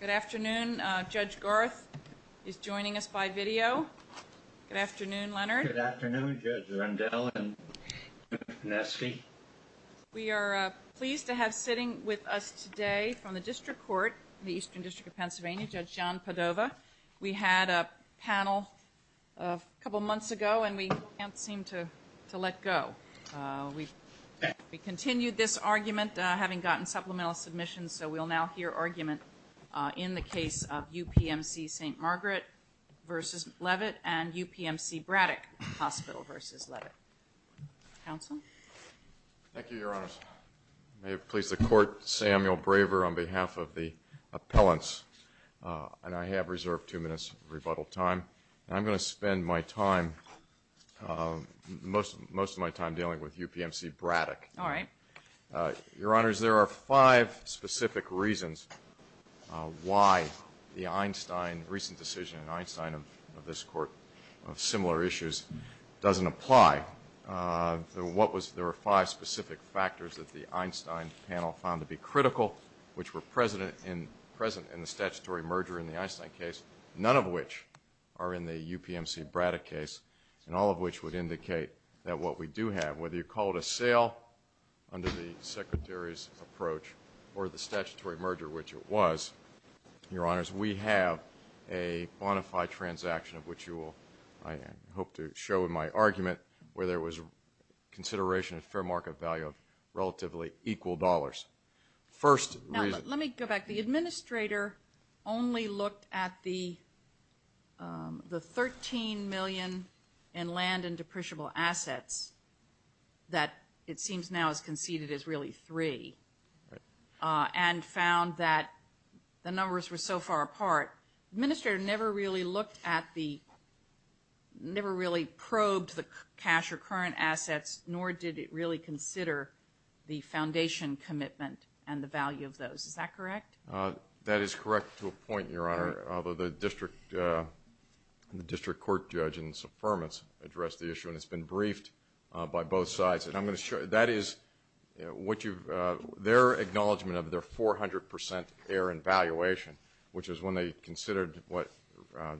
Good afternoon. Judge Garth is joining us by video. Good afternoon, Leonard. Good afternoon, Judge Rundell and Nesky. We are pleased to have sitting with us today from the District Court, the Eastern District of Pennsylvania, Judge John Padova. We had a panel a couple months ago, and we can't seem to let go. We continued this argument, having gotten supplemental submissions, so we'll now hear argument in the case of UPMC St. Margaret v. Leavitt and UPMC Braddock Hospital v. Leavitt. Counsel? Thank you, Your Honors. May it please the Court, Samuel Braver on behalf of the appellants, and I have reserved two minutes of rebuttal time. I'm going to spend my time, most of my time dealing with UPMC Braddock. All right. Your Honors, there are five specific reasons why the Einstein, recent decision in Einstein of this Court of similar issues doesn't apply. There were five specific factors that the Einstein panel found to be critical, which were present in the statutory merger in the Einstein case, none of which are in the UPMC Braddock case, and all of which would indicate that what we do have, whether you call it a sale under the Secretary's approach or the statutory merger, which it was, Your Honors, we have a bona fide transaction of which you will, I hope to show in my argument, where there was consideration of fair market value of relatively equal dollars. Now, let me go back. The administrator only looked at the 13 million in land and depreciable assets that it seems now is conceded is really three and found that the numbers were so far apart. The administrator never really looked at the, never really probed the cash or current assets, nor did it really consider the foundation commitment and the value of those. Is that correct? That is correct to a point, Your Honor, although the district court judge in his affirmance addressed the issue and it's been briefed by both sides. And I'm going to show you, that is what you've, their acknowledgement of their 400% error in valuation, which is when they considered what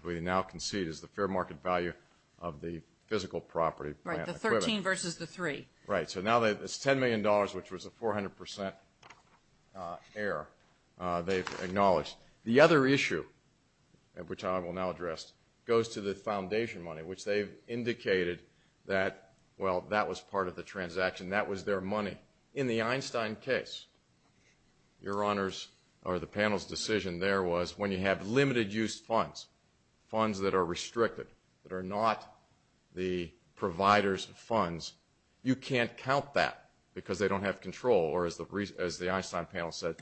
we now concede is the fair market value of the physical property. Right, the 13 versus the three. Right, so now it's $10 million, which was a 400% error they've acknowledged. The other issue, which I will now address, goes to the foundation money, which they've indicated that, well, that was part of the transaction, that was their money. In the Einstein case, Your Honors, or the panel's decision there was when you have limited use funds, funds that are restricted, that are not the provider's funds, you can't count that because they don't have control, or as the Einstein panel said,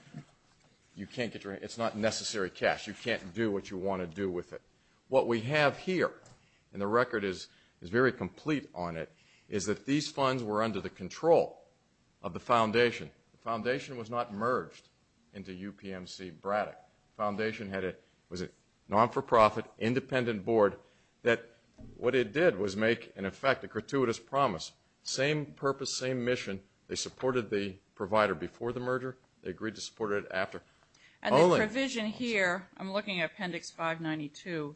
you can't get your, it's not necessary cash. You can't do what you want to do with it. What we have here, and the record is very complete on it, is that these funds were under the control of the foundation. The foundation was not merged into UPMC Braddock. The foundation was a non-for-profit, independent board that what it did was make, in effect, a gratuitous promise. Same purpose, same mission. They supported the provider before the merger. They agreed to support it after. And the provision here, I'm looking at Appendix 592,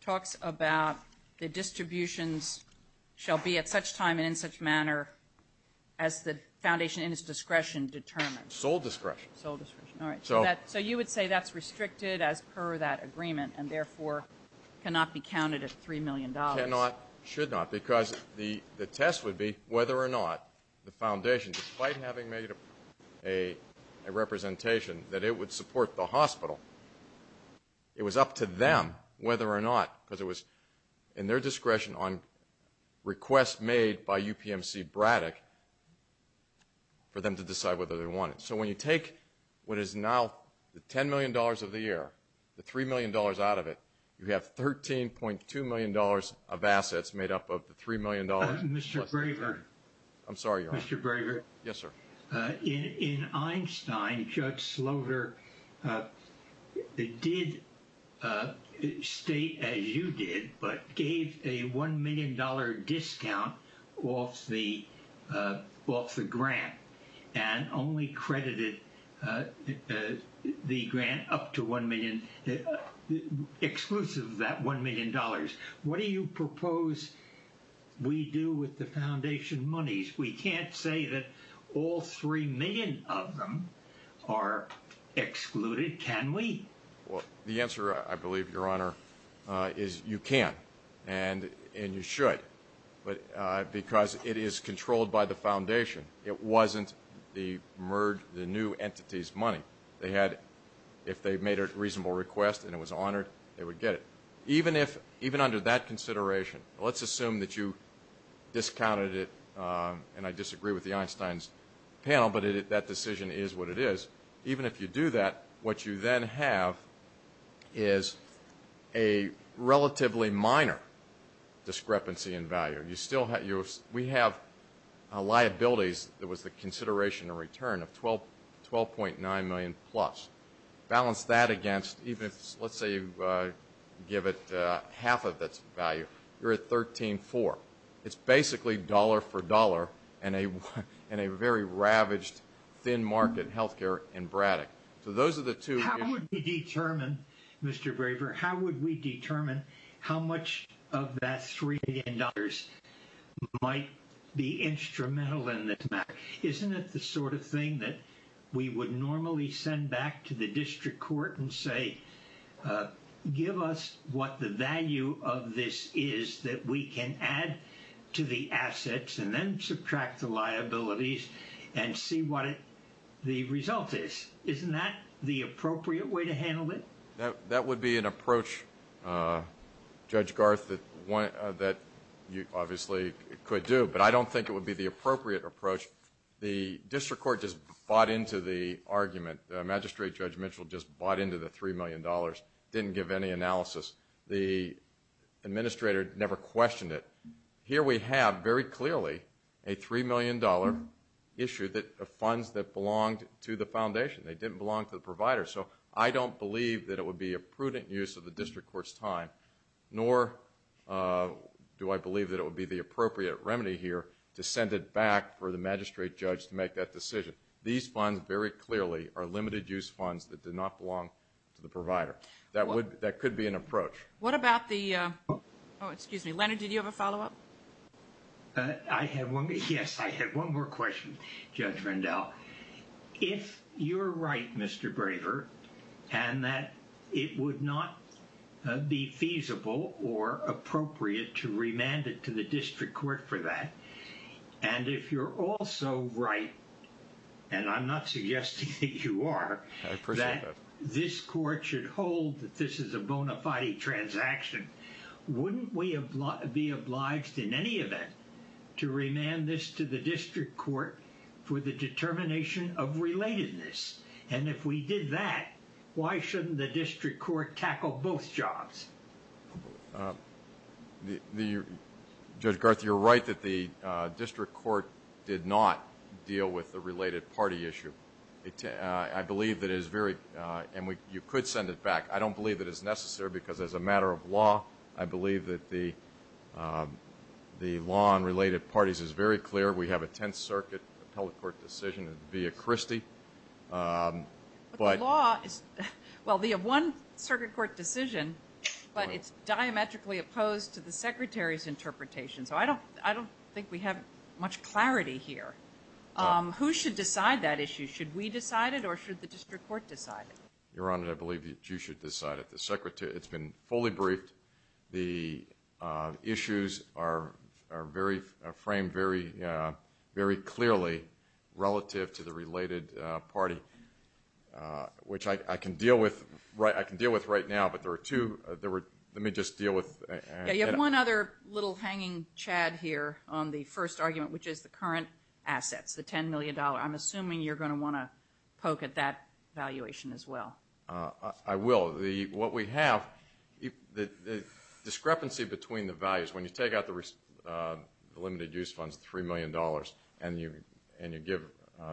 talks about the distributions shall be at such time and in such manner as the foundation in its discretion determines. Sole discretion. Sole discretion, all right. So you would say that's restricted as per that agreement and, therefore, cannot be counted at $3 million. Cannot, should not, because the test would be whether or not the foundation, despite having made a representation that it would support the hospital, it was up to them whether or not, because it was in their discretion on requests made by UPMC Braddock, for them to decide whether they want it. So when you take what is now the $10 million of the year, the $3 million out of it, you have $13.2 million of assets made up of the $3 million. Mr. Braver. I'm sorry, Your Honor. Mr. Braver. Yes, sir. In Einstein, Judge Slaughter did state, as you did, but gave a $1 million discount off the grant and only credited the grant up to $1 million, exclusive of that $1 million. What do you propose we do with the foundation monies? We can't say that all $3 million of them are excluded, can we? Well, the answer, I believe, Your Honor, is you can and you should, because it is controlled by the foundation. It wasn't the new entity's money. If they made a reasonable request and it was honored, they would get it. Even under that consideration, let's assume that you discounted it, and I disagree with the Einstein's panel, but that decision is what it is. Even if you do that, what you then have is a relatively minor discrepancy in value. We have liabilities that was the consideration in return of $12.9 million-plus. Balance that against even if, let's say, you give it half of its value. You're at $13.4 million. It's basically dollar for dollar in a very ravaged, thin-market health care in Braddock. How would we determine, Mr. Braver, how much of that $3 million might be instrumental in this matter? Isn't it the sort of thing that we would normally send back to the district court and say, give us what the value of this is that we can add to the assets and then subtract the liabilities and see what the result is? Isn't that the appropriate way to handle it? That would be an approach, Judge Garth, that you obviously could do, but I don't think it would be the appropriate approach. The district court just bought into the argument. Magistrate Judge Mitchell just bought into the $3 million, didn't give any analysis. The administrator never questioned it. Here we have very clearly a $3 million issue of funds that belonged to the foundation. They didn't belong to the provider. So I don't believe that it would be a prudent use of the district court's time, nor do I believe that it would be the appropriate remedy here to send it back for the magistrate judge to make that decision. These funds very clearly are limited-use funds that did not belong to the provider. That could be an approach. What about the—oh, excuse me. Leonard, did you have a follow-up? Yes, I had one more question, Judge Rendell. If you're right, Mr. Braver, and that it would not be feasible or appropriate to remand it to the district court for that, and if you're also right, and I'm not suggesting that you are, that this court should hold that this is a bona fide transaction, wouldn't we be obliged in any event to remand this to the district court for the determination of relatedness? And if we did that, why shouldn't the district court tackle both jobs? Judge Garth, you're right that the district court did not deal with the related party issue. I believe that it is very—and you could send it back. I don't believe that it's necessary because as a matter of law, I believe that the law on related parties is very clear. We have a Tenth Circuit appellate court decision via Christie. But the law is—well, we have one circuit court decision, but it's diametrically opposed to the Secretary's interpretation. So I don't think we have much clarity here. Who should decide that issue? Should we decide it or should the district court decide it? Your Honor, I believe that you should decide it. The Secretary—it's been fully briefed. The issues are framed very clearly relative to the related party, which I can deal with right now, but there are two—let me just deal with— You have one other little hanging chad here on the first argument, which is the current assets, the $10 million. I'm assuming you're going to want to poke at that valuation as well. I will. What we have, the discrepancy between the values, when you take out the limited-use funds, $3 million, and you give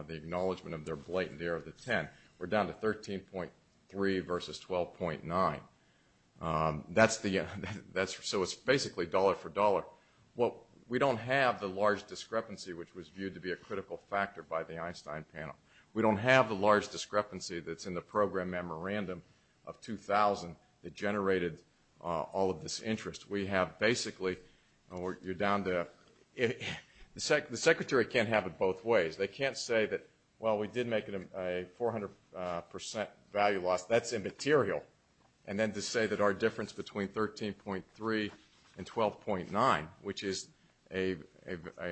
the acknowledgment of their blatant error of the 10, we're down to 13.3 versus 12.9. So it's basically dollar for dollar. We don't have the large discrepancy, which was viewed to be a critical factor by the Einstein panel. We don't have the large discrepancy that's in the program memorandum of $2,000 that generated all of this interest. We have basically—you're down to—the Secretary can't have it both ways. They can't say that, well, we did make a 400% value loss. That's immaterial. And then to say that our difference between 13.3 and 12.9, which is an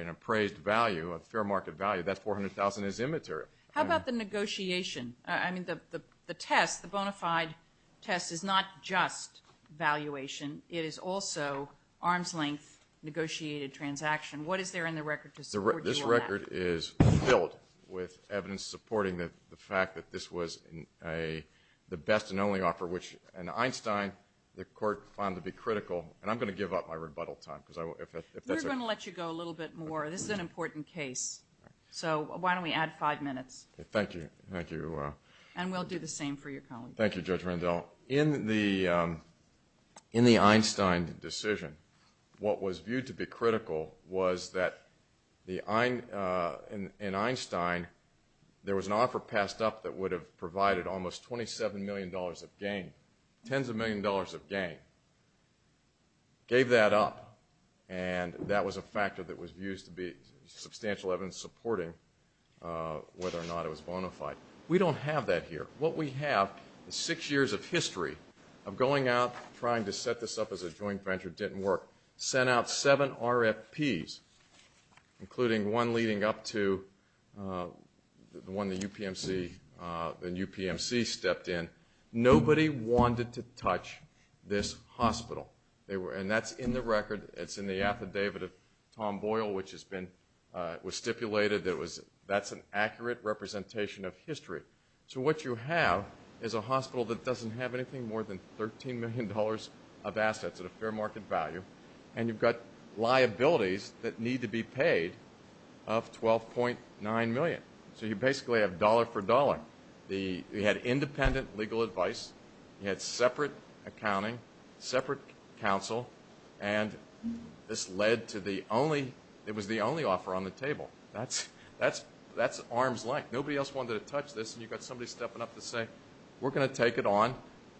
appraised value, a fair market value, that 400,000 is immaterial. How about the negotiation? I mean the test, the bona fide test, is not just valuation. It is also arm's length negotiated transaction. What is there in the record to support you on that? This record is filled with evidence supporting the fact that this was the best and only offer, which in Einstein the court found to be critical. And I'm going to give up my rebuttal time. We're going to let you go a little bit more. This is an important case. So why don't we add five minutes. Thank you. And we'll do the same for your colleagues. Thank you, Judge Randall. In the Einstein decision, what was viewed to be critical was that in Einstein, there was an offer passed up that would have provided almost $27 million of gain, tens of millions of dollars of gain. Gave that up, and that was a factor that was used to be substantial evidence supporting whether or not it was bona fide. We don't have that here. What we have is six years of history of going out, trying to set this up as a joint venture. It didn't work. Sent out seven RFPs, including one leading up to the one the UPMC stepped in. Nobody wanted to touch this hospital. And that's in the record. It's in the affidavit of Tom Boyle, which was stipulated. That's an accurate representation of history. So what you have is a hospital that doesn't have anything more than $13 million of assets at a fair market value, and you've got liabilities that need to be paid of $12.9 million. So you basically have dollar for dollar. You had independent legal advice. You had separate accounting, separate counsel, and this led to the only – it was the only offer on the table. That's arm's length. Nobody else wanted to touch this, and you've got somebody stepping up to say, we're going to take it on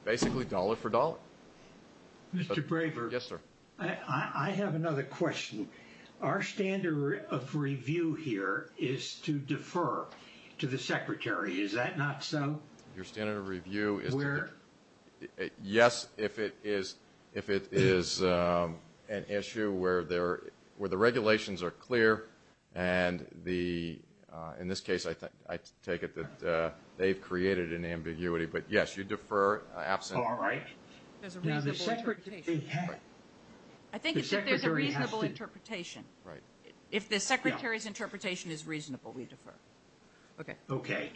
basically dollar for dollar. Mr. Braver. Yes, sir. I have another question. Our standard of review here is to defer to the Secretary. Is that not so? Your standard of review is to defer? Yes, if it is an issue where the regulations are clear and the – in this case, I take it that they've created an ambiguity. But, yes, you defer. All right. There's a reasonable interpretation. I think it's that there's a reasonable interpretation. Right. If the Secretary's interpretation is reasonable, we defer. Okay. Okay.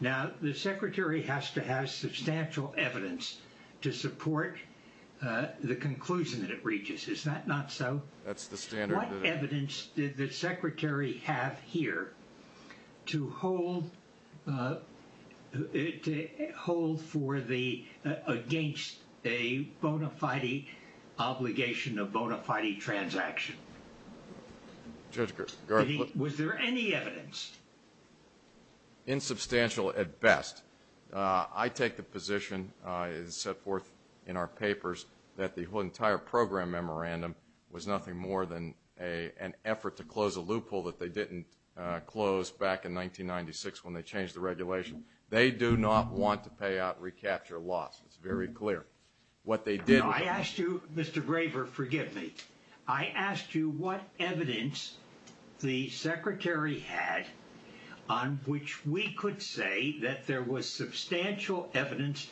Now, the Secretary has to have substantial evidence to support the conclusion that it reaches. Is that not so? That's the standard. What evidence did the Secretary have here to hold for the – against a bona fide obligation, a bona fide transaction? Was there any evidence? Insubstantial at best. I take the position, as set forth in our papers, that the entire program memorandum was nothing more than an effort to close a loophole that they didn't close back in 1996 when they changed the regulation. They do not want to pay out recapture loss. It's very clear. What they did was – No, I asked you – Mr. Graber, forgive me. I asked you what evidence the Secretary had on which we could say that there was substantial evidence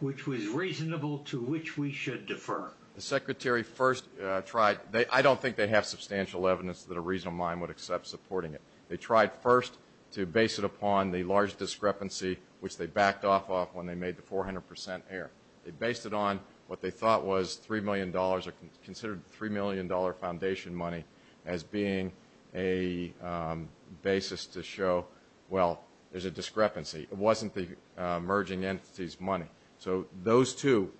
which was reasonable to which we should defer. The Secretary first tried – I don't think they have substantial evidence that a reasonable mind would accept supporting it. They tried first to base it upon the large discrepancy, which they backed off of when they made the 400 percent error. They based it on what they thought was $3 million or considered $3 million foundation money as being a basis to show, well, there's a discrepancy. It wasn't the emerging entities' money. So those two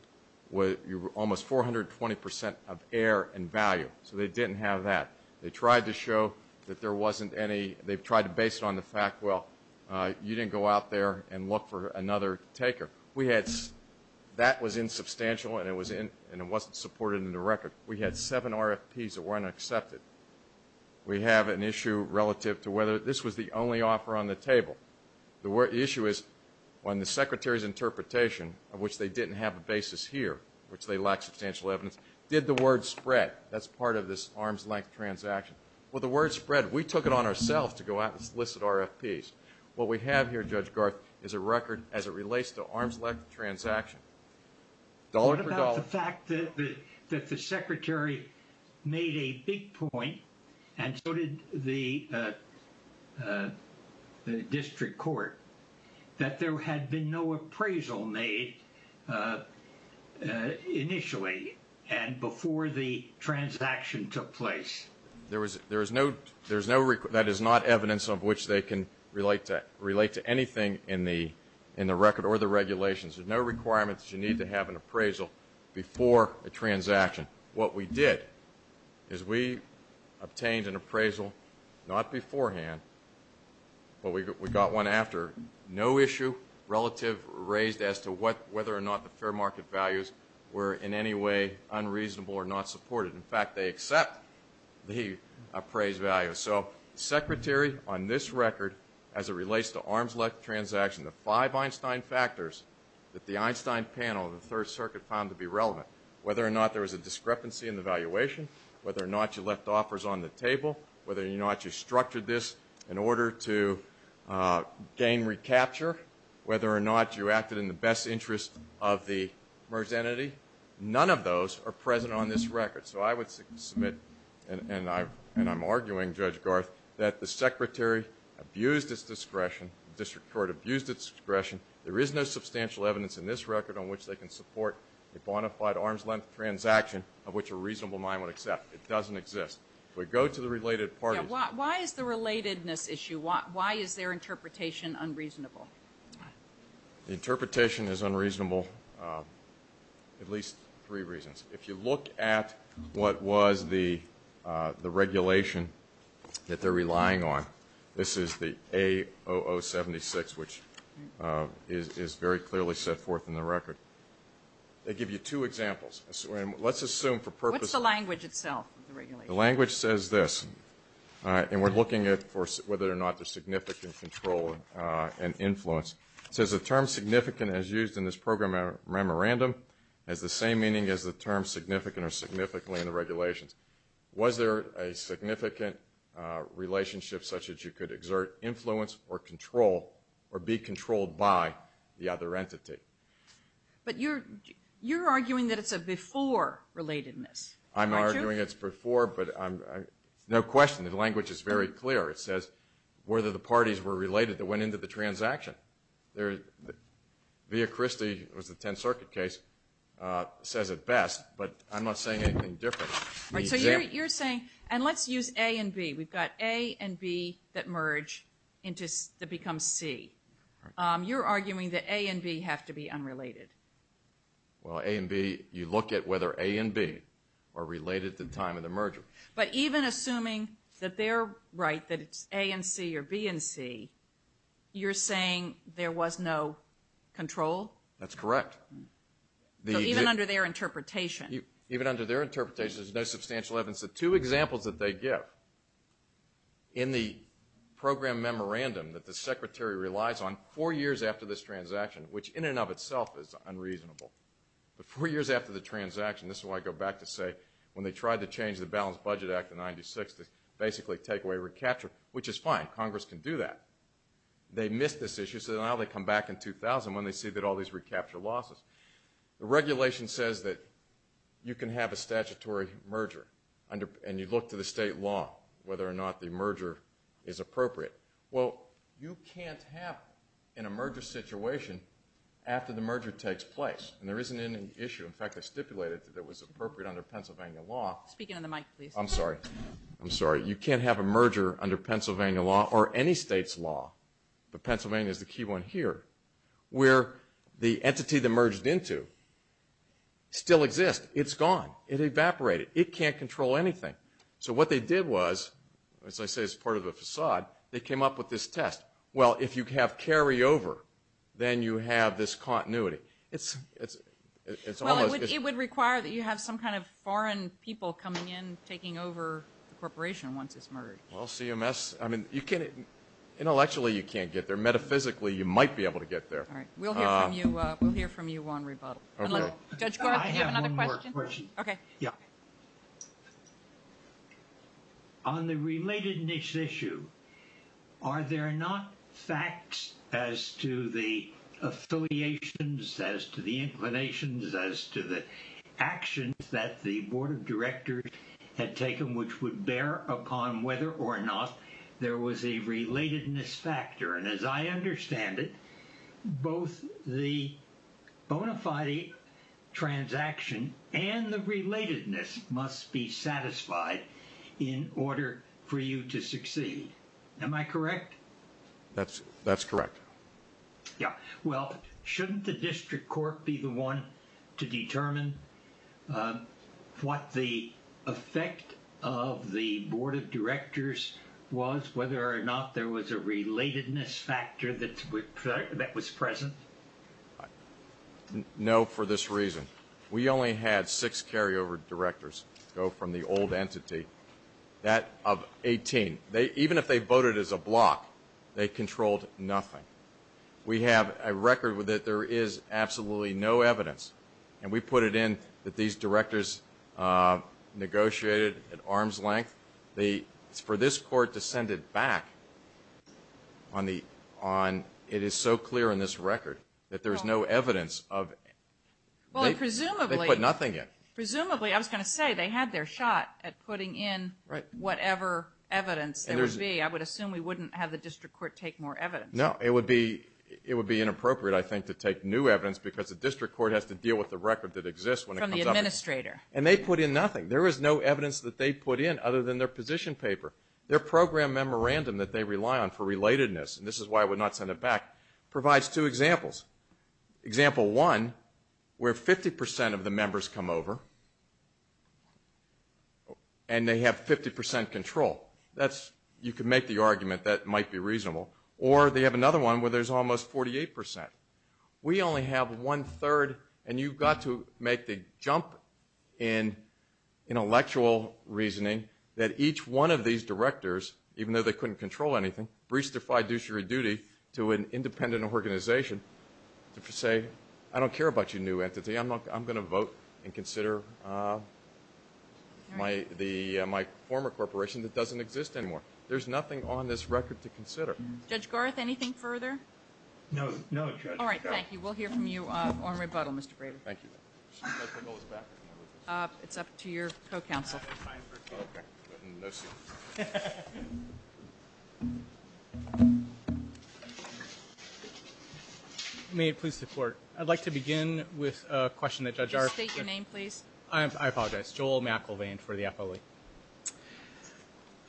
were almost 420 percent of error and value. So they didn't have that. They tried to show that there wasn't any – they tried to base it on the fact, well, you didn't go out there and look for another taker. We had – that was insubstantial, and it wasn't supported in the record. We had seven RFPs that weren't accepted. We have an issue relative to whether – this was the only offer on the table. The issue is when the Secretary's interpretation, of which they didn't have a basis here, which they lacked substantial evidence, did the word spread? That's part of this arm's-length transaction. Well, the word spread. We took it on ourselves to go out and solicit RFPs. What we have here, Judge Garth, is a record as it relates to arm's-length transaction, dollar for dollar. The fact that the Secretary made a big point, and so did the district court, that there had been no appraisal made initially and before the transaction took place. There is no – that is not evidence of which they can relate to anything in the record or the regulations. There's no requirement that you need to have an appraisal before a transaction. What we did is we obtained an appraisal not beforehand, but we got one after. No issue relative raised as to whether or not the fair market values were in any way unreasonable or not supported. In fact, they accept the appraised value. So the Secretary on this record, as it relates to arm's-length transaction, the five Einstein factors that the Einstein panel of the Third Circuit found to be relevant, whether or not there was a discrepancy in the valuation, whether or not you left offers on the table, whether or not you structured this in order to gain recapture, whether or not you acted in the best interest of the merged entity, none of those are present on this record. So I would submit, and I'm arguing, Judge Garth, that the Secretary abused its discretion, the district court abused its discretion. There is no substantial evidence in this record on which they can support a bona fide arm's-length transaction of which a reasonable mind would accept. It doesn't exist. If we go to the related parties. Why is the relatedness issue, why is their interpretation unreasonable? The interpretation is unreasonable for at least three reasons. If you look at what was the regulation that they're relying on, this is the A0076, which is very clearly set forth in the record. They give you two examples. Let's assume for purpose. What's the language itself of the regulation? The language says this, and we're looking at whether or not there's significant control and influence. It says the term significant as used in this program memorandum has the same meaning as the term significant or significantly in the regulations. Was there a significant relationship such that you could exert influence or control or be controlled by the other entity? But you're arguing that it's a before relatedness, aren't you? I'm arguing it's before, but no question. The language is very clear. It says whether the parties were related that went into the transaction. Via Christi, it was the Tenth Circuit case, says it best, but I'm not saying anything different. So you're saying, and let's use A and B. We've got A and B that merge to become C. You're arguing that A and B have to be unrelated. Well, A and B, you look at whether A and B are related at the time of the merger. But even assuming that they're right, that it's A and C or B and C, you're saying there was no control? That's correct. So even under their interpretation. Even under their interpretation, there's no substantial evidence. The two examples that they give in the program memorandum that the Secretary relies on, four years after this transaction, which in and of itself is unreasonable. But four years after the transaction, this is why I go back to say when they tried to change the Balanced Budget Act of 1996 to basically take away recapture, which is fine. Congress can do that. They missed this issue, so now they come back in 2000 when they see that all these recapture losses. The regulation says that you can have a statutory merger, and you look to the state law whether or not the merger is appropriate. Well, you can't have an emergent situation after the merger takes place, and there isn't any issue. In fact, they stipulated that it was appropriate under Pennsylvania law. Speaking on the mic, please. I'm sorry. I'm sorry. You can't have a merger under Pennsylvania law or any state's law, but Pennsylvania is the key one here, where the entity that merged into still exists. It's gone. It evaporated. It can't control anything. So what they did was, as I say, it's part of the facade. They came up with this test. Well, if you have carryover, then you have this continuity. It's almost as if you have some kind of foreign people coming in, taking over the corporation once it's merged. Well, CMS, I mean, intellectually you can't get there. Metaphysically, you might be able to get there. All right. We'll hear from you on rebuttal. Okay. Judge Gordon, do you have another question? I have one more question. Okay. Yeah. On the relatedness issue, are there not facts as to the affiliations, as to the inclinations, as to the actions that the board of directors had taken which would bear upon whether or not there was a relatedness factor? And as I understand it, both the bona fide transaction and the relatedness must be satisfied in order for you to succeed. Am I correct? That's correct. Yeah. Well, shouldn't the district court be the one to determine what the effect of the board of directors was, whether or not there was a relatedness factor that was present? No, for this reason. We only had six carryover directors go from the old entity, that of 18. Even if they voted as a block, they controlled nothing. We have a record that there is absolutely no evidence. And we put it in that these directors negotiated at arm's length. For this court to send it back, it is so clear in this record that there is no evidence of they put nothing in. Presumably, I was going to say, they had their shot at putting in whatever evidence there would be. I would assume we wouldn't have the district court take more evidence. No, it would be inappropriate, I think, to take new evidence because the district court has to deal with the record that exists when it comes up. From the administrator. And they put in nothing. There is no evidence that they put in other than their position paper. Their program memorandum that they rely on for relatedness, and this is why I would not send it back, provides two examples. Example one, where 50% of the members come over, and they have 50% control. You can make the argument that might be reasonable. Or they have another one where there is almost 48%. We only have one-third, and you've got to make the jump in intellectual reasoning, that each one of these directors, even though they couldn't control anything, to an independent organization to say, I don't care about your new entity. I'm going to vote and consider my former corporation that doesn't exist anymore. There's nothing on this record to consider. Judge Garth, anything further? No, Judge. All right, thank you. We'll hear from you on rebuttal, Mr. Braver. Thank you. It's up to your co-counsel. Okay. May it please the Court. I'd like to begin with a question that Judge Garth Just state your name, please. I apologize. Joel McElvain for the appellee.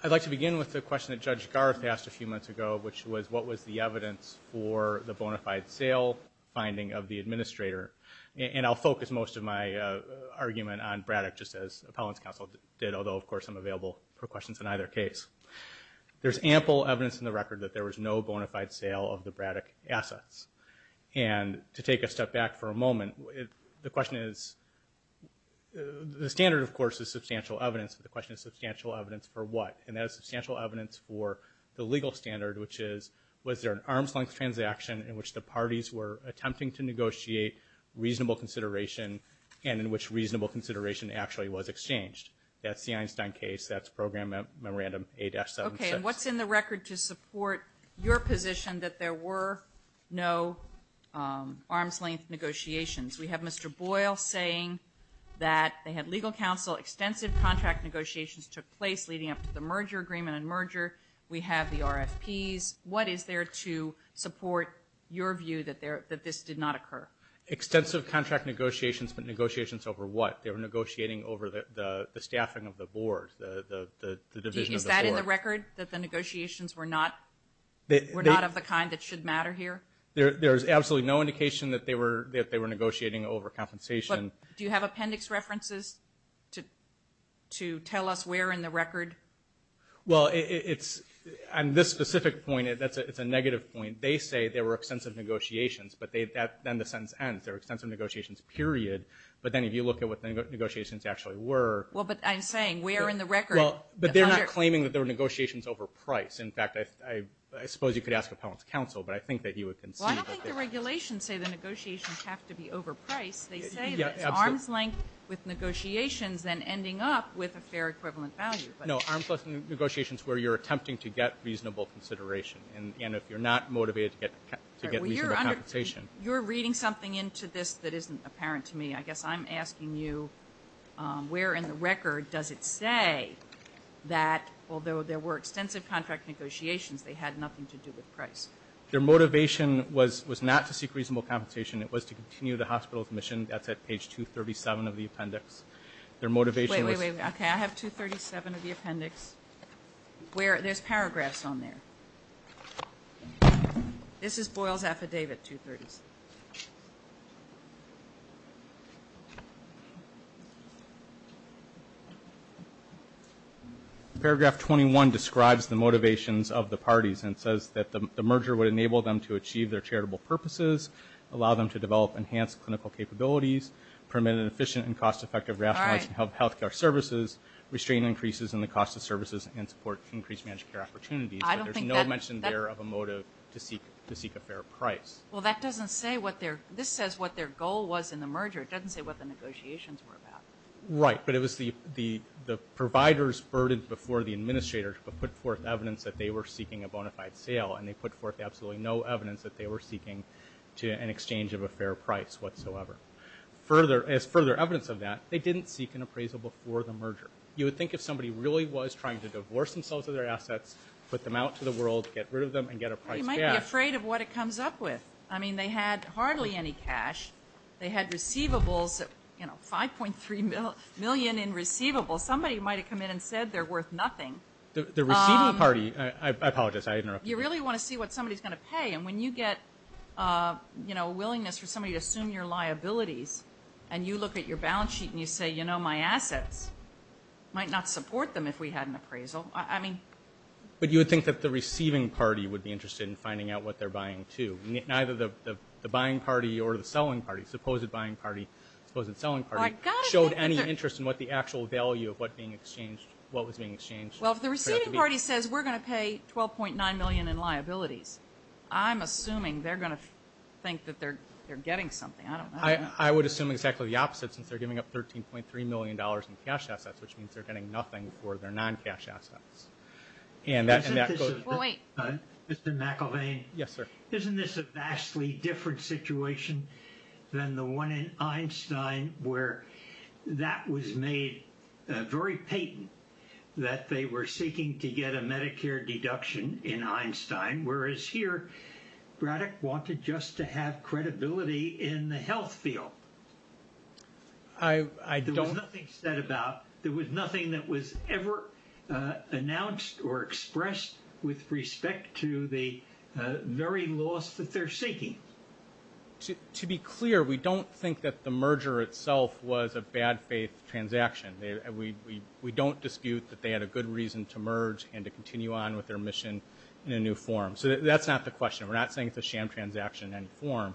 I'd like to begin with the question that Judge Garth asked a few months ago, which was what was the evidence for the bona fide sale finding of the administrator. And I'll focus most of my argument on Braddock, just as appellant's counsel did, although, of course, I'm available for questions in either case. There's ample evidence in the record that there was no bona fide sale of the Braddock assets. And to take a step back for a moment, the question is, the standard, of course, is substantial evidence, but the question is substantial evidence for what? And that is substantial evidence for the legal standard, which is, was there an arm's-length transaction in which the parties were attempting to negotiate reasonable consideration and in which reasonable consideration actually was exchanged? That's the Einstein case. That's Program Memorandum 8-76. Okay. And what's in the record to support your position that there were no arm's-length negotiations? We have Mr. Boyle saying that they had legal counsel, extensive contract negotiations took place leading up to the merger agreement and merger. We have the RFPs. What is there to support your view that this did not occur? Extensive contract negotiations, but negotiations over what? They were negotiating over the staffing of the board, the division of the board. Is that in the record, that the negotiations were not of the kind that should matter here? There is absolutely no indication that they were negotiating over compensation. Do you have appendix references to tell us where in the record? Well, it's, on this specific point, it's a negative point. They say there were extensive negotiations, but then the sentence ends. There were extensive negotiations, period. But then if you look at what the negotiations actually were. Well, but I'm saying, where in the record? But they're not claiming that there were negotiations over price. In fact, I suppose you could ask appellant's counsel, but I think that you would concede. Well, I don't think the regulations say the negotiations have to be over price. They say that it's arm's-length with negotiations and ending up with a fair equivalent value. No, arm's-length negotiations where you're attempting to get reasonable consideration. And if you're not motivated to get reasonable compensation. You're reading something into this that isn't apparent to me. I guess I'm asking you, where in the record does it say that, although there were extensive contract negotiations, they had nothing to do with price? Their motivation was not to seek reasonable compensation. It was to continue the hospital's mission. That's at page 237 of the appendix. Wait, wait, wait. Okay, I have 237 of the appendix. There's paragraphs on there. This is Boyle's affidavit 230. Paragraph 21 describes the motivations of the parties and says that the merger would enable them to achieve their charitable purposes, allow them to develop enhanced clinical capabilities, permit an efficient and cost-effective rationalization of health care services, restrain increases in the cost of services, and support increased managed care opportunities. But there's no mention there of a motive to seek a fair price. Well, that doesn't say what their goal was in the merger. It doesn't say what the negotiations were about. Right, but it was the providers burdened before the administrators who put forth evidence that they were seeking a bona fide sale, and they put forth absolutely no evidence that they were seeking an exchange of a fair price whatsoever. As further evidence of that, they didn't seek an appraisal before the merger. You would think if somebody really was trying to divorce themselves of their assets, put them out to the world, get rid of them, and get a price back. Well, you might be afraid of what it comes up with. I mean, they had hardly any cash. They had receivables, you know, $5.3 million in receivables. Somebody might have come in and said they're worth nothing. The receiving party, I apologize, I interrupted you. You really want to see what somebody's going to pay, and when you get, you know, a willingness for somebody to assume your liabilities, and you look at your balance sheet and you say, you know, my assets, might not support them if we had an appraisal. I mean. But you would think that the receiving party would be interested in finding out what they're buying, too. Neither the buying party or the selling party, supposed buying party, supposed selling party, showed any interest in what the actual value of what was being exchanged. Well, if the receiving party says we're going to pay $12.9 million in liabilities, I'm assuming they're going to think that they're getting something. I don't know. I would assume exactly the opposite since they're giving up $13.3 million in cash assets, which means they're getting nothing for their non-cash assets. And that goes. Well, wait. Mr. McElvain. Yes, sir. Isn't this a vastly different situation than the one in Einstein where that was made very patent, that they were seeking to get a Medicare deduction in Einstein, whereas here Braddock wanted just to have credibility in the health field? I don't. There was nothing said about. There was nothing that was ever announced or expressed with respect to the very loss that they're seeking. To be clear, we don't think that the merger itself was a bad faith transaction. We don't dispute that they had a good reason to merge and to continue on with their mission in a new form. So that's not the question. We're not saying it's a sham transaction in any form.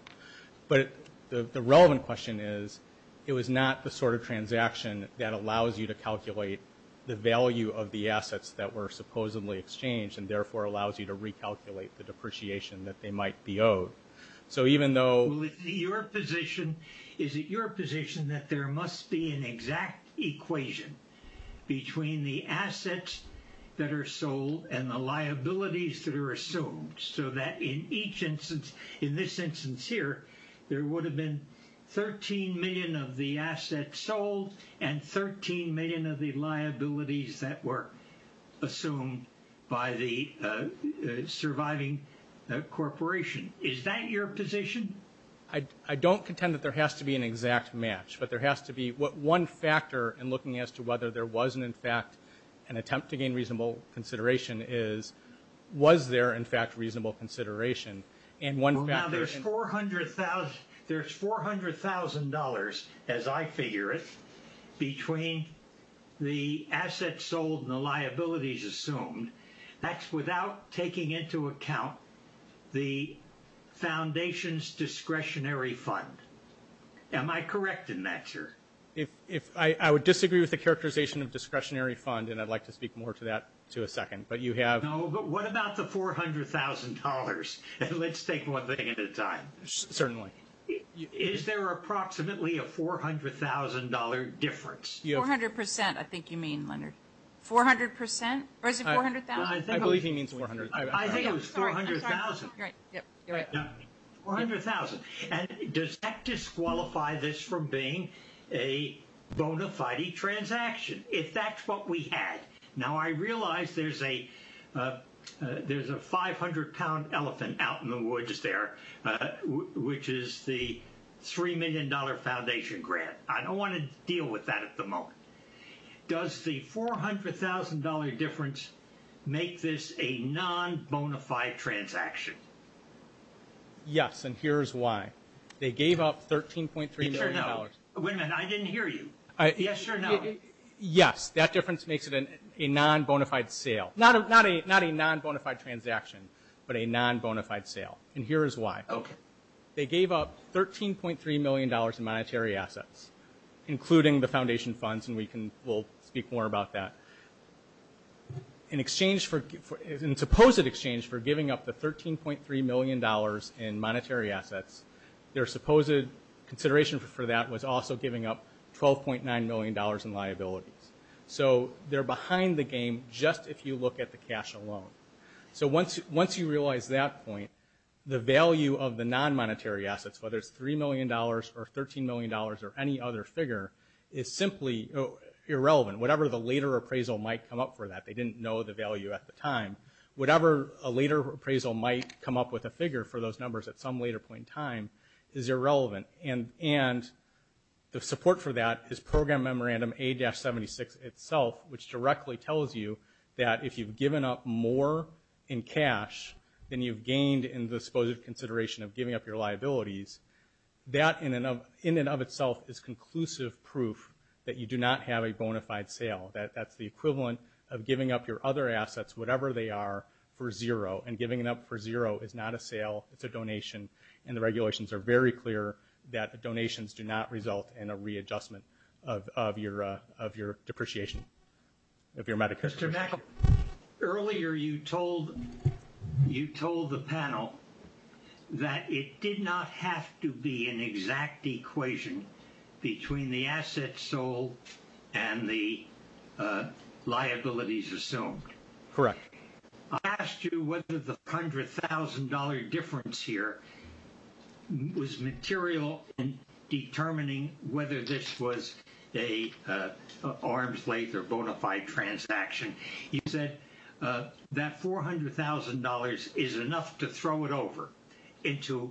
But the relevant question is, it was not the sort of transaction that allows you to calculate the value of the assets that were supposedly exchanged and therefore allows you to recalculate the depreciation that they might be owed. So even though. Well, is it your position that there must be an exact equation between the assets that are sold and the liabilities that are assumed so that in each instance, in this instance here, there would have been 13 million of the assets sold and 13 million of the liabilities that were assumed by the surviving corporation? Is that your position? I don't contend that there has to be an exact match, but there has to be one factor in looking as to whether there was in fact an attempt to gain reasonable consideration is, was there in fact reasonable consideration? Well, now there's $400,000, as I figure it, between the assets sold and the liabilities assumed. That's without taking into account the foundation's discretionary fund. Am I correct in that, sir? I would disagree with the characterization of discretionary fund, and I'd like to speak more to that in a second. No, but what about the $400,000? Let's take one thing at a time. Certainly. Is there approximately a $400,000 difference? 400%, I think you mean, Leonard. 400%? Or is it $400,000? I believe he means $400,000. I think it was $400,000. $400,000. And does that disqualify this from being a bona fide transaction, if that's what we had? Now, I realize there's a 500-pound elephant out in the woods there, which is the $3 million foundation grant. I don't want to deal with that at the moment. Does the $400,000 difference make this a non-bona fide transaction? Yes, and here's why. They gave up $13.3 million. Wait a minute, I didn't hear you. Yes or no? Yes, that difference makes it a non-bona fide sale. Not a non-bona fide transaction, but a non-bona fide sale. And here is why. Okay. They gave up $13.3 million in monetary assets, including the foundation funds, and we'll speak more about that. In supposed exchange for giving up the $13.3 million in monetary assets, their supposed consideration for that was also giving up $12.9 million in liabilities. So they're behind the game just if you look at the cash alone. So once you realize that point, the value of the non-monetary assets, whether it's $3 million or $13 million or any other figure, is simply irrelevant. Whatever the later appraisal might come up for that, they didn't know the value at the time. Whatever a later appraisal might come up with a figure for those numbers at some later point in time is irrelevant. And the support for that is Program Memorandum A-76 itself, which directly tells you that if you've given up more in cash than you've gained in the supposed consideration of giving up your liabilities, that in and of itself is conclusive proof that you do not have a bona fide sale. That's the equivalent of giving up your other assets, whatever they are, for zero. And giving them up for zero is not a sale. It's a donation. And the regulations are very clear that donations do not result in a readjustment of your depreciation of your Medicare. Mr. McAuliffe, earlier you told the panel that it did not have to be an exact equation between the assets sold and the liabilities assumed. Correct. I asked you whether the $400,000 difference here was material in determining whether this was an arms length or bona fide transaction. You said that $400,000 is enough to throw it over into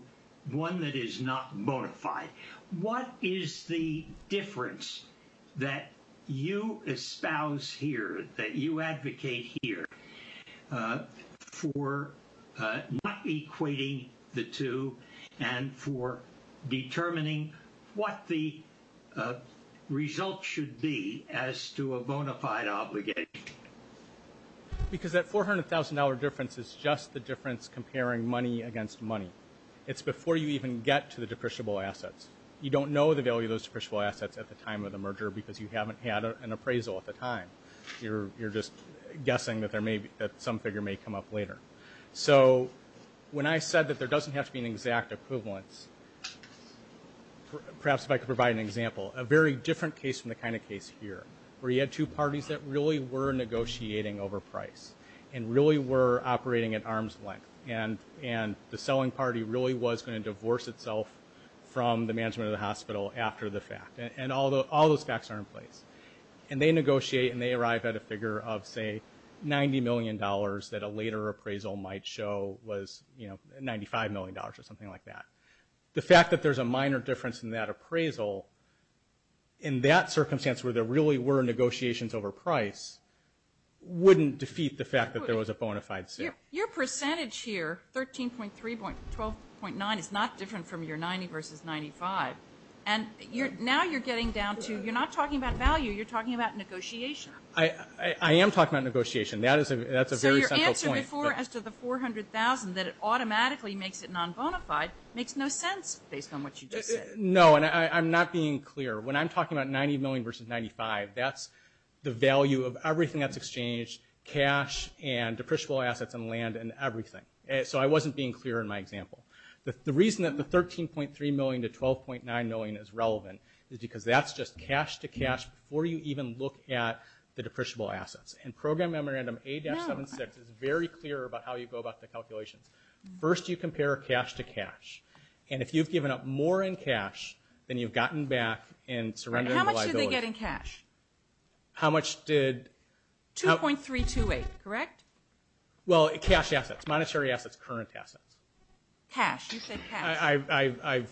one that is not bona fide. What is the difference that you espouse here, that you advocate here, for not equating the two and for determining what the results should be as to a bona fide obligation? Because that $400,000 difference is just the difference comparing money against money. It's before you even get to the depreciable assets. You don't know the value of those depreciable assets at the time of the merger because you haven't had an appraisal at the time. You're just guessing that some figure may come up later. So when I said that there doesn't have to be an exact equivalence, perhaps if I could provide an example, a very different case from the kind of case here, where you had two parties that really were negotiating over price and really were operating at arms length, and the selling party really was going to divorce itself from the management of the hospital after the fact, and all those facts are in place. And they negotiate and they arrive at a figure of, say, $90 million that a later appraisal might show was $95 million or something like that. The fact that there's a minor difference in that appraisal, in that circumstance where there really were negotiations over price, wouldn't defeat the fact that there was a bona fide sale. Your percentage here, 13.3, 12.9, is not different from your 90 versus 95. And now you're getting down to, you're not talking about value, you're talking about negotiation. I am talking about negotiation. That's a very central point. So your answer before as to the $400,000, that it automatically makes it non-bona fide, makes no sense based on what you just said. No, and I'm not being clear. When I'm talking about 90 million versus 95, that's the value of everything that's exchanged, cash and depreciable assets and land and everything. So I wasn't being clear in my example. The reason that the 13.3 million to 12.9 million is relevant is because that's just cash to cash before you even look at the depreciable assets. And Program Memorandum A-76 is very clear about how you go about the calculations. First you compare cash to cash. And if you've given up more in cash, then you've gotten back in surrendering the liability. How much did they get in cash? How much did? 2.328, correct? Well, cash assets, monetary assets, current assets. Cash, you said cash.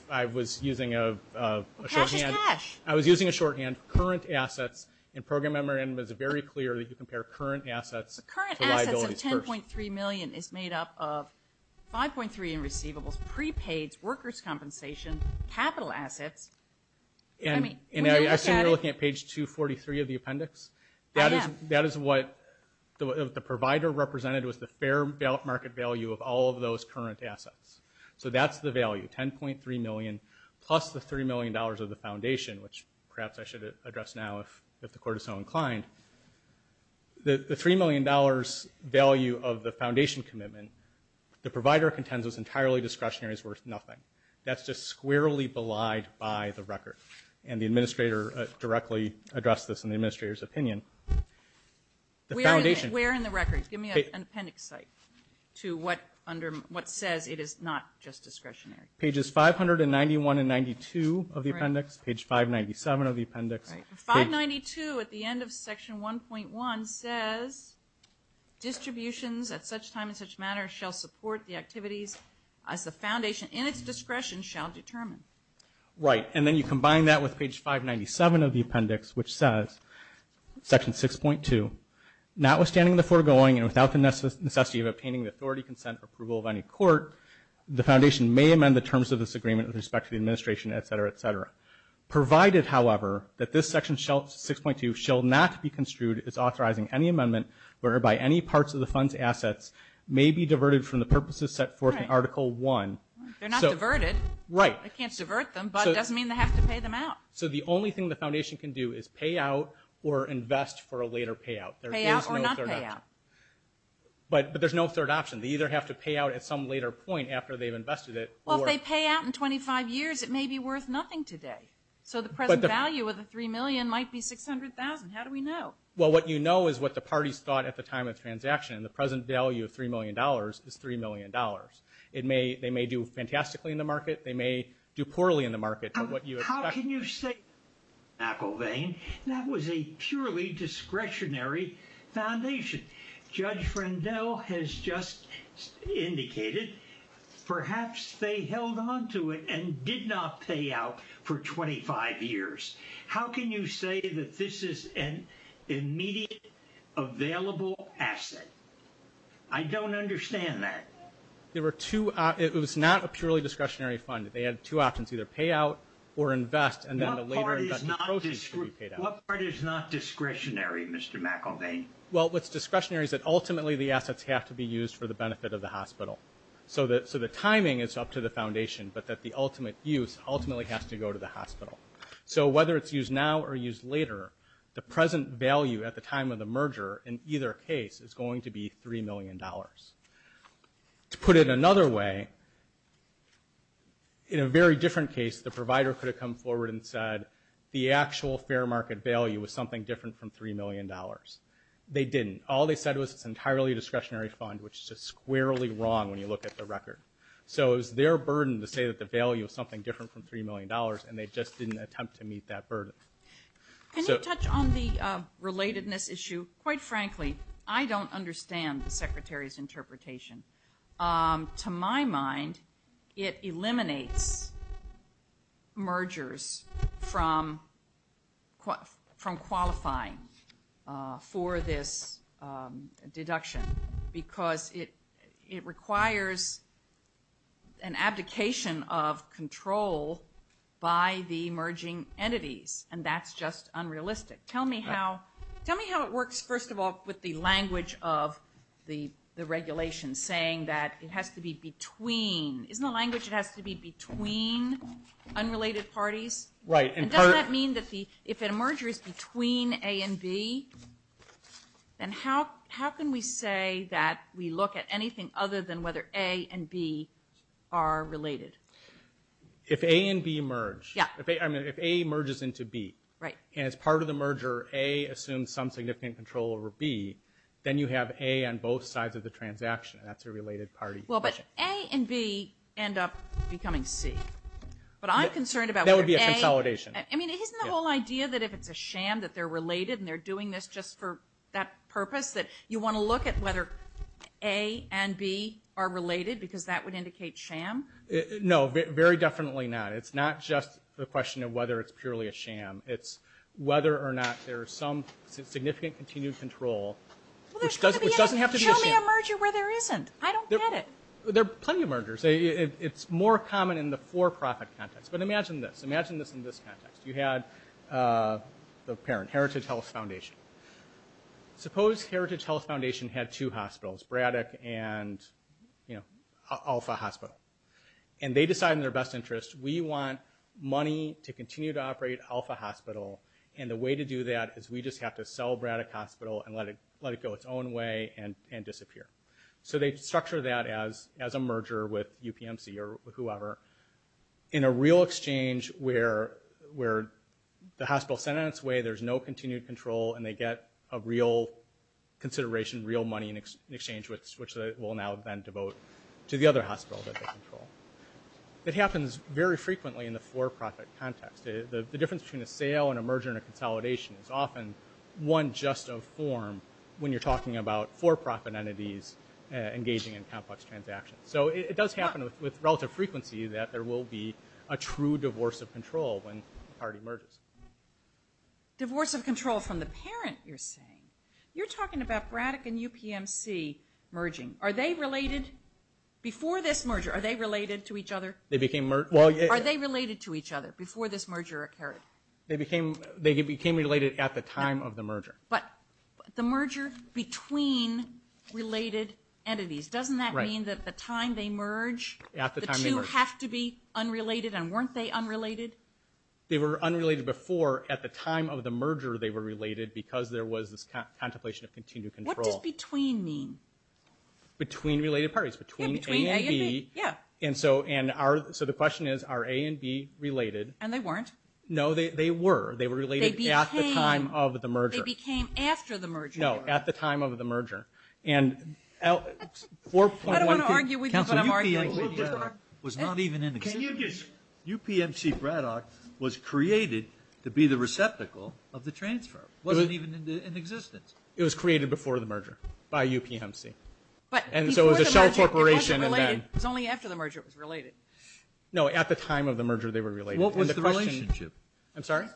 I was using a shorthand. Cash is cash. I was using a shorthand. Current assets in Program Memorandum is very clear that you compare current assets to liabilities first. If 10.3 million is made up of 5.3 in receivables, prepaids, workers' compensation, capital assets, I mean, when you look at it. And I assume you're looking at page 243 of the appendix? I am. That is what the provider represented was the fair market value of all of those current assets. So that's the value, 10.3 million plus the $3 million of the foundation, which perhaps I should address now if the court is so inclined. The $3 million value of the foundation commitment, the provider contends is entirely discretionary, is worth nothing. That's just squarely belied by the record. And the administrator directly addressed this in the administrator's opinion. Where in the record? Give me an appendix site to what says it is not just discretionary. Pages 591 and 92 of the appendix, page 597 of the appendix. 592 at the end of section 1.1 says, distributions at such time and such manner shall support the activities as the foundation in its discretion shall determine. Right. And then you combine that with page 597 of the appendix, which says, section 6.2, notwithstanding the foregoing and without the necessity of obtaining the authority, consent, or approval of any court, the foundation may amend the terms of this agreement with respect to the administration, et cetera, et cetera. Provided, however, that this section 6.2 shall not be construed as authorizing any amendment whereby any parts of the fund's assets may be diverted from the purposes set forth in article 1. They're not diverted. Right. They can't divert them, but it doesn't mean they have to pay them out. So the only thing the foundation can do is pay out or invest for a later payout. Pay out or not pay out. But there's no third option. They either have to pay out at some later point after they've invested it. Well, if they pay out in 25 years, it may be worth nothing today. So the present value of the $3 million might be $600,000. How do we know? Well, what you know is what the parties thought at the time of the transaction, and the present value of $3 million is $3 million. They may do fantastically in the market. They may do poorly in the market. How can you say that, McIlvain? That was a purely discretionary foundation. Judge Rendell has just indicated perhaps they held onto it and did not pay out for 25 years. How can you say that this is an immediate available asset? I don't understand that. It was not a purely discretionary fund. They had two options, either pay out or invest, and then the later investment proceeds could be paid out. What part is not discretionary, Mr. McIlvain? Well, what's discretionary is that ultimately the assets have to be used for the benefit of the hospital. So the timing is up to the foundation, but that the ultimate use ultimately has to go to the hospital. So whether it's used now or used later, the present value at the time of the merger in either case is going to be $3 million. To put it another way, in a very different case, the provider could have come forward and said the actual fair market value was something different from $3 million. They didn't. All they said was it's an entirely discretionary fund, which is just squarely wrong when you look at the record. So it was their burden to say that the value was something different from $3 million, and they just didn't attempt to meet that burden. Can you touch on the relatedness issue? Quite frankly, I don't understand the Secretary's interpretation. To my mind, it eliminates mergers from qualifying for this deduction because it requires an abdication of control by the emerging entities, and that's just unrealistic. Tell me how it works, first of all, with the language of the regulation saying that it has to be between. Isn't the language it has to be between unrelated parties? Right. And does that mean that if a merger is between A and B, then how can we say that we look at anything other than whether A and B are related? If A and B merge, if A merges into B, and as part of the merger A assumes some significant control over B, then you have A on both sides of the transaction, and that's a related party. Well, but A and B end up becoming C. That would be a consolidation. Isn't the whole idea that if it's a sham that they're related and they're doing this just for that purpose, that you want to look at whether A and B are related because that would indicate sham? No, very definitely not. It's not just the question of whether it's purely a sham. It's whether or not there's some significant continued control, which doesn't have to be a sham. Show me a merger where there isn't. I don't get it. There are plenty of mergers. It's more common in the for-profit context. But imagine this. Imagine this in this context. You had the parent, Heritage Health Foundation. Suppose Heritage Health Foundation had two hospitals, Braddock and Alpha Hospital, and they decide in their best interest, we want money to continue to operate Alpha Hospital, and the way to do that is we just have to sell Braddock Hospital and let it go its own way and disappear. So they structure that as a merger with UPMC or whoever in a real exchange where the hospital is sent on its way, there's no continued control, and they get a real consideration, real money in exchange which they will now then devote to the other hospitals that they control. It happens very frequently in the for-profit context. The difference between a sale and a merger and a consolidation is often one just of form when you're talking about for-profit entities engaging in complex transactions. So it does happen with relative frequency that there will be a true divorce of control when the party merges. Divorce of control from the parent, you're saying. You're talking about Braddock and UPMC merging. Are they related before this merger? Are they related to each other? Are they related to each other before this merger occurred? They became related at the time of the merger. But the merger between related entities, doesn't that mean that at the time they merge, the two have to be unrelated, and weren't they unrelated? They were unrelated before at the time of the merger they were related because there was this contemplation of continued control. What does between mean? Between related parties. Between A and B. So the question is, are A and B related? And they weren't? No, they were. They were related at the time of the merger. They became after the merger. No, at the time of the merger. I don't want to argue with you, but I'm arguing. UPMC Braddock was not even in existence. UPMC Braddock was created to be the receptacle of the transfer. It wasn't even in existence. It was created before the merger by UPMC. And so it was a shell corporation. It was only after the merger it was related. No, at the time of the merger they were related. What was the relationship? I'm sorry?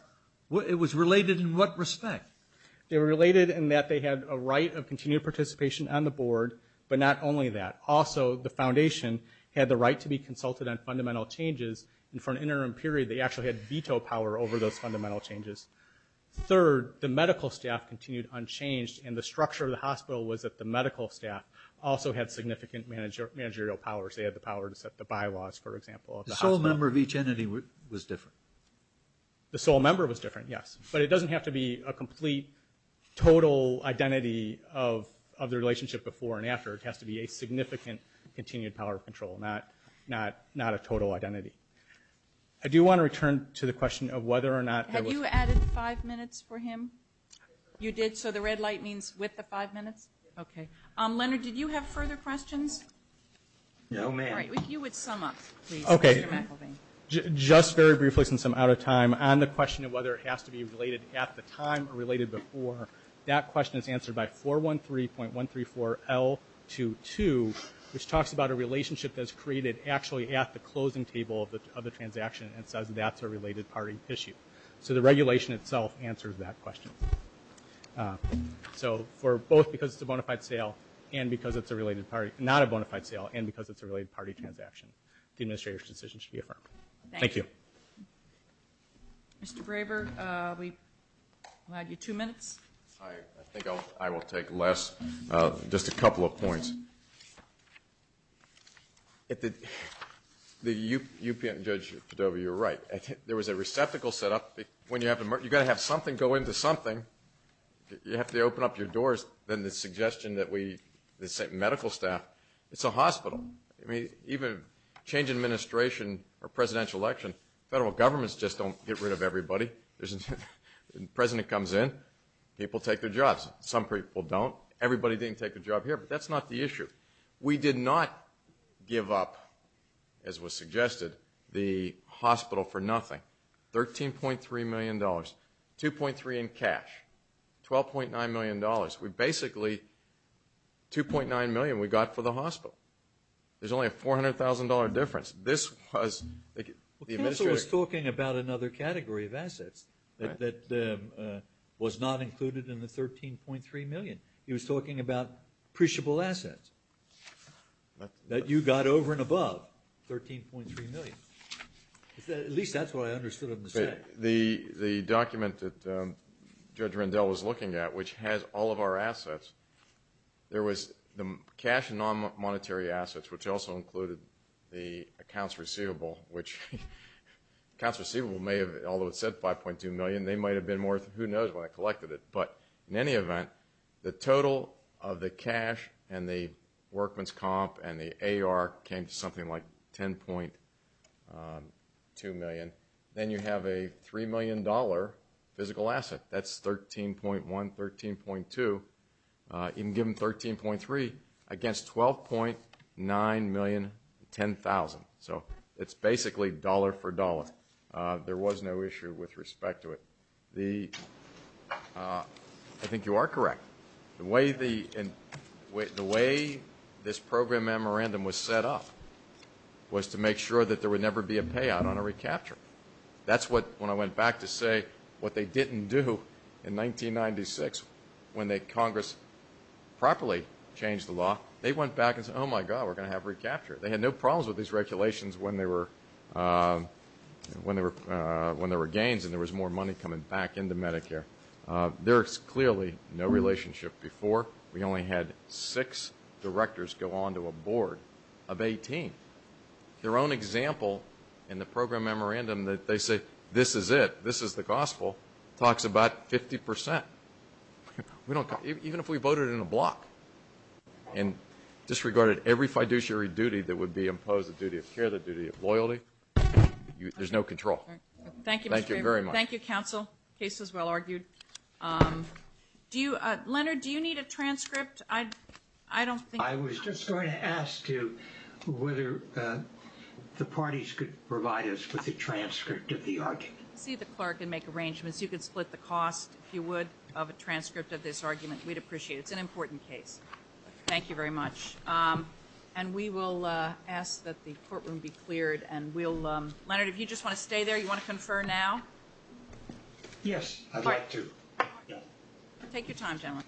It was related in what respect? They were related in that they had a right of continued participation on the board, but not only that. Also, the foundation had the right to be consulted on fundamental changes, and for an interim period they actually had veto power over those fundamental changes. Third, the medical staff continued unchanged, and the structure of the hospital was that the medical staff also had significant managerial powers. They had the power to set the bylaws, for example. The sole member of each entity was different. The sole member was different, yes. But it doesn't have to be a complete total identity of the relationship before and after. It has to be a significant continued power of control, not a total identity. I do want to return to the question of whether or not there was. Have you added five minutes for him? You did? So the red light means with the five minutes? Yes. Okay. Leonard, did you have further questions? No, ma'am. All right. You would sum up, please, Mr. McElvain. Okay. Just very briefly since I'm out of time, on the question of whether it has to be related at the time or related before, that question is answered by 413.134L22, which talks about a relationship that's created actually at the closing table of the transaction and says that's a related party issue. So the regulation itself answers that question. So for both because it's a bona fide sale and because it's a related party, not a bona fide sale and because it's a related party transaction, the administrator's decision should be affirmed. Thank you. Thank you. Mr. Graber, we'll add you two minutes. I think I will take less. Just a couple of points. The U.P. and Judge Padova, you're right. There was a receptacle set up. You've got to have something go into something. You have to open up your doors. Then the suggestion that we, the medical staff, it's a hospital. Even change in administration or presidential election, federal governments just don't get rid of everybody. The president comes in, people take their jobs. Some people don't. Everybody didn't take a job here, but that's not the issue. We did not give up, as was suggested, the hospital for nothing. $13.3 million, 2.3 in cash, $12.9 million. Basically, $2.9 million we got for the hospital. There's only a $400,000 difference. This was the administrator. Counsel was talking about another category of assets that was not included in the $13.3 million. He was talking about appreciable assets that you got over and above $13.3 million. At least that's what I understood him to say. The document that Judge Rendell was looking at, which has all of our assets, there was the cash and non-monetary assets, which also included the accounts receivable, which accounts receivable may have, although it said $5.2 million, they might have been more, who knows when I collected it. But in any event, the total of the cash and the workman's comp and the AR came to something like $10.2 million. Then you have a $3 million physical asset. That's $13.1, $13.2. You can give them $13.3 against $12.9 million, $10,000. So it's basically dollar for dollar. There was no issue with respect to it. I think you are correct. The way this program memorandum was set up was to make sure that there would never be a payout on a recapture. That's what, when I went back to say what they didn't do in 1996 when Congress properly changed the law, they went back and said, oh, my God, we're going to have recapture. They had no problems with these regulations when there were gains and there was more money coming back into Medicare. There is clearly no relationship before. We only had six directors go on to a board of 18. Their own example in the program memorandum that they say, this is it, this is the gospel, talks about 50%. Even if we voted in a block and disregarded every fiduciary duty that would be imposed, the duty of care, the duty of loyalty, there's no control. Thank you very much. Thank you, Counsel. The case was well argued. Leonard, do you need a transcript? I was just going to ask you whether the parties could provide us with a transcript of the argument. You can see the clerk and make arrangements. You can split the cost, if you would, of a transcript of this argument. We'd appreciate it. It's an important case. Thank you very much. And we will ask that the courtroom be cleared. Leonard, if you just want to stay there, you want to confer now? Yes, I'd like to. Take your time, gentlemen.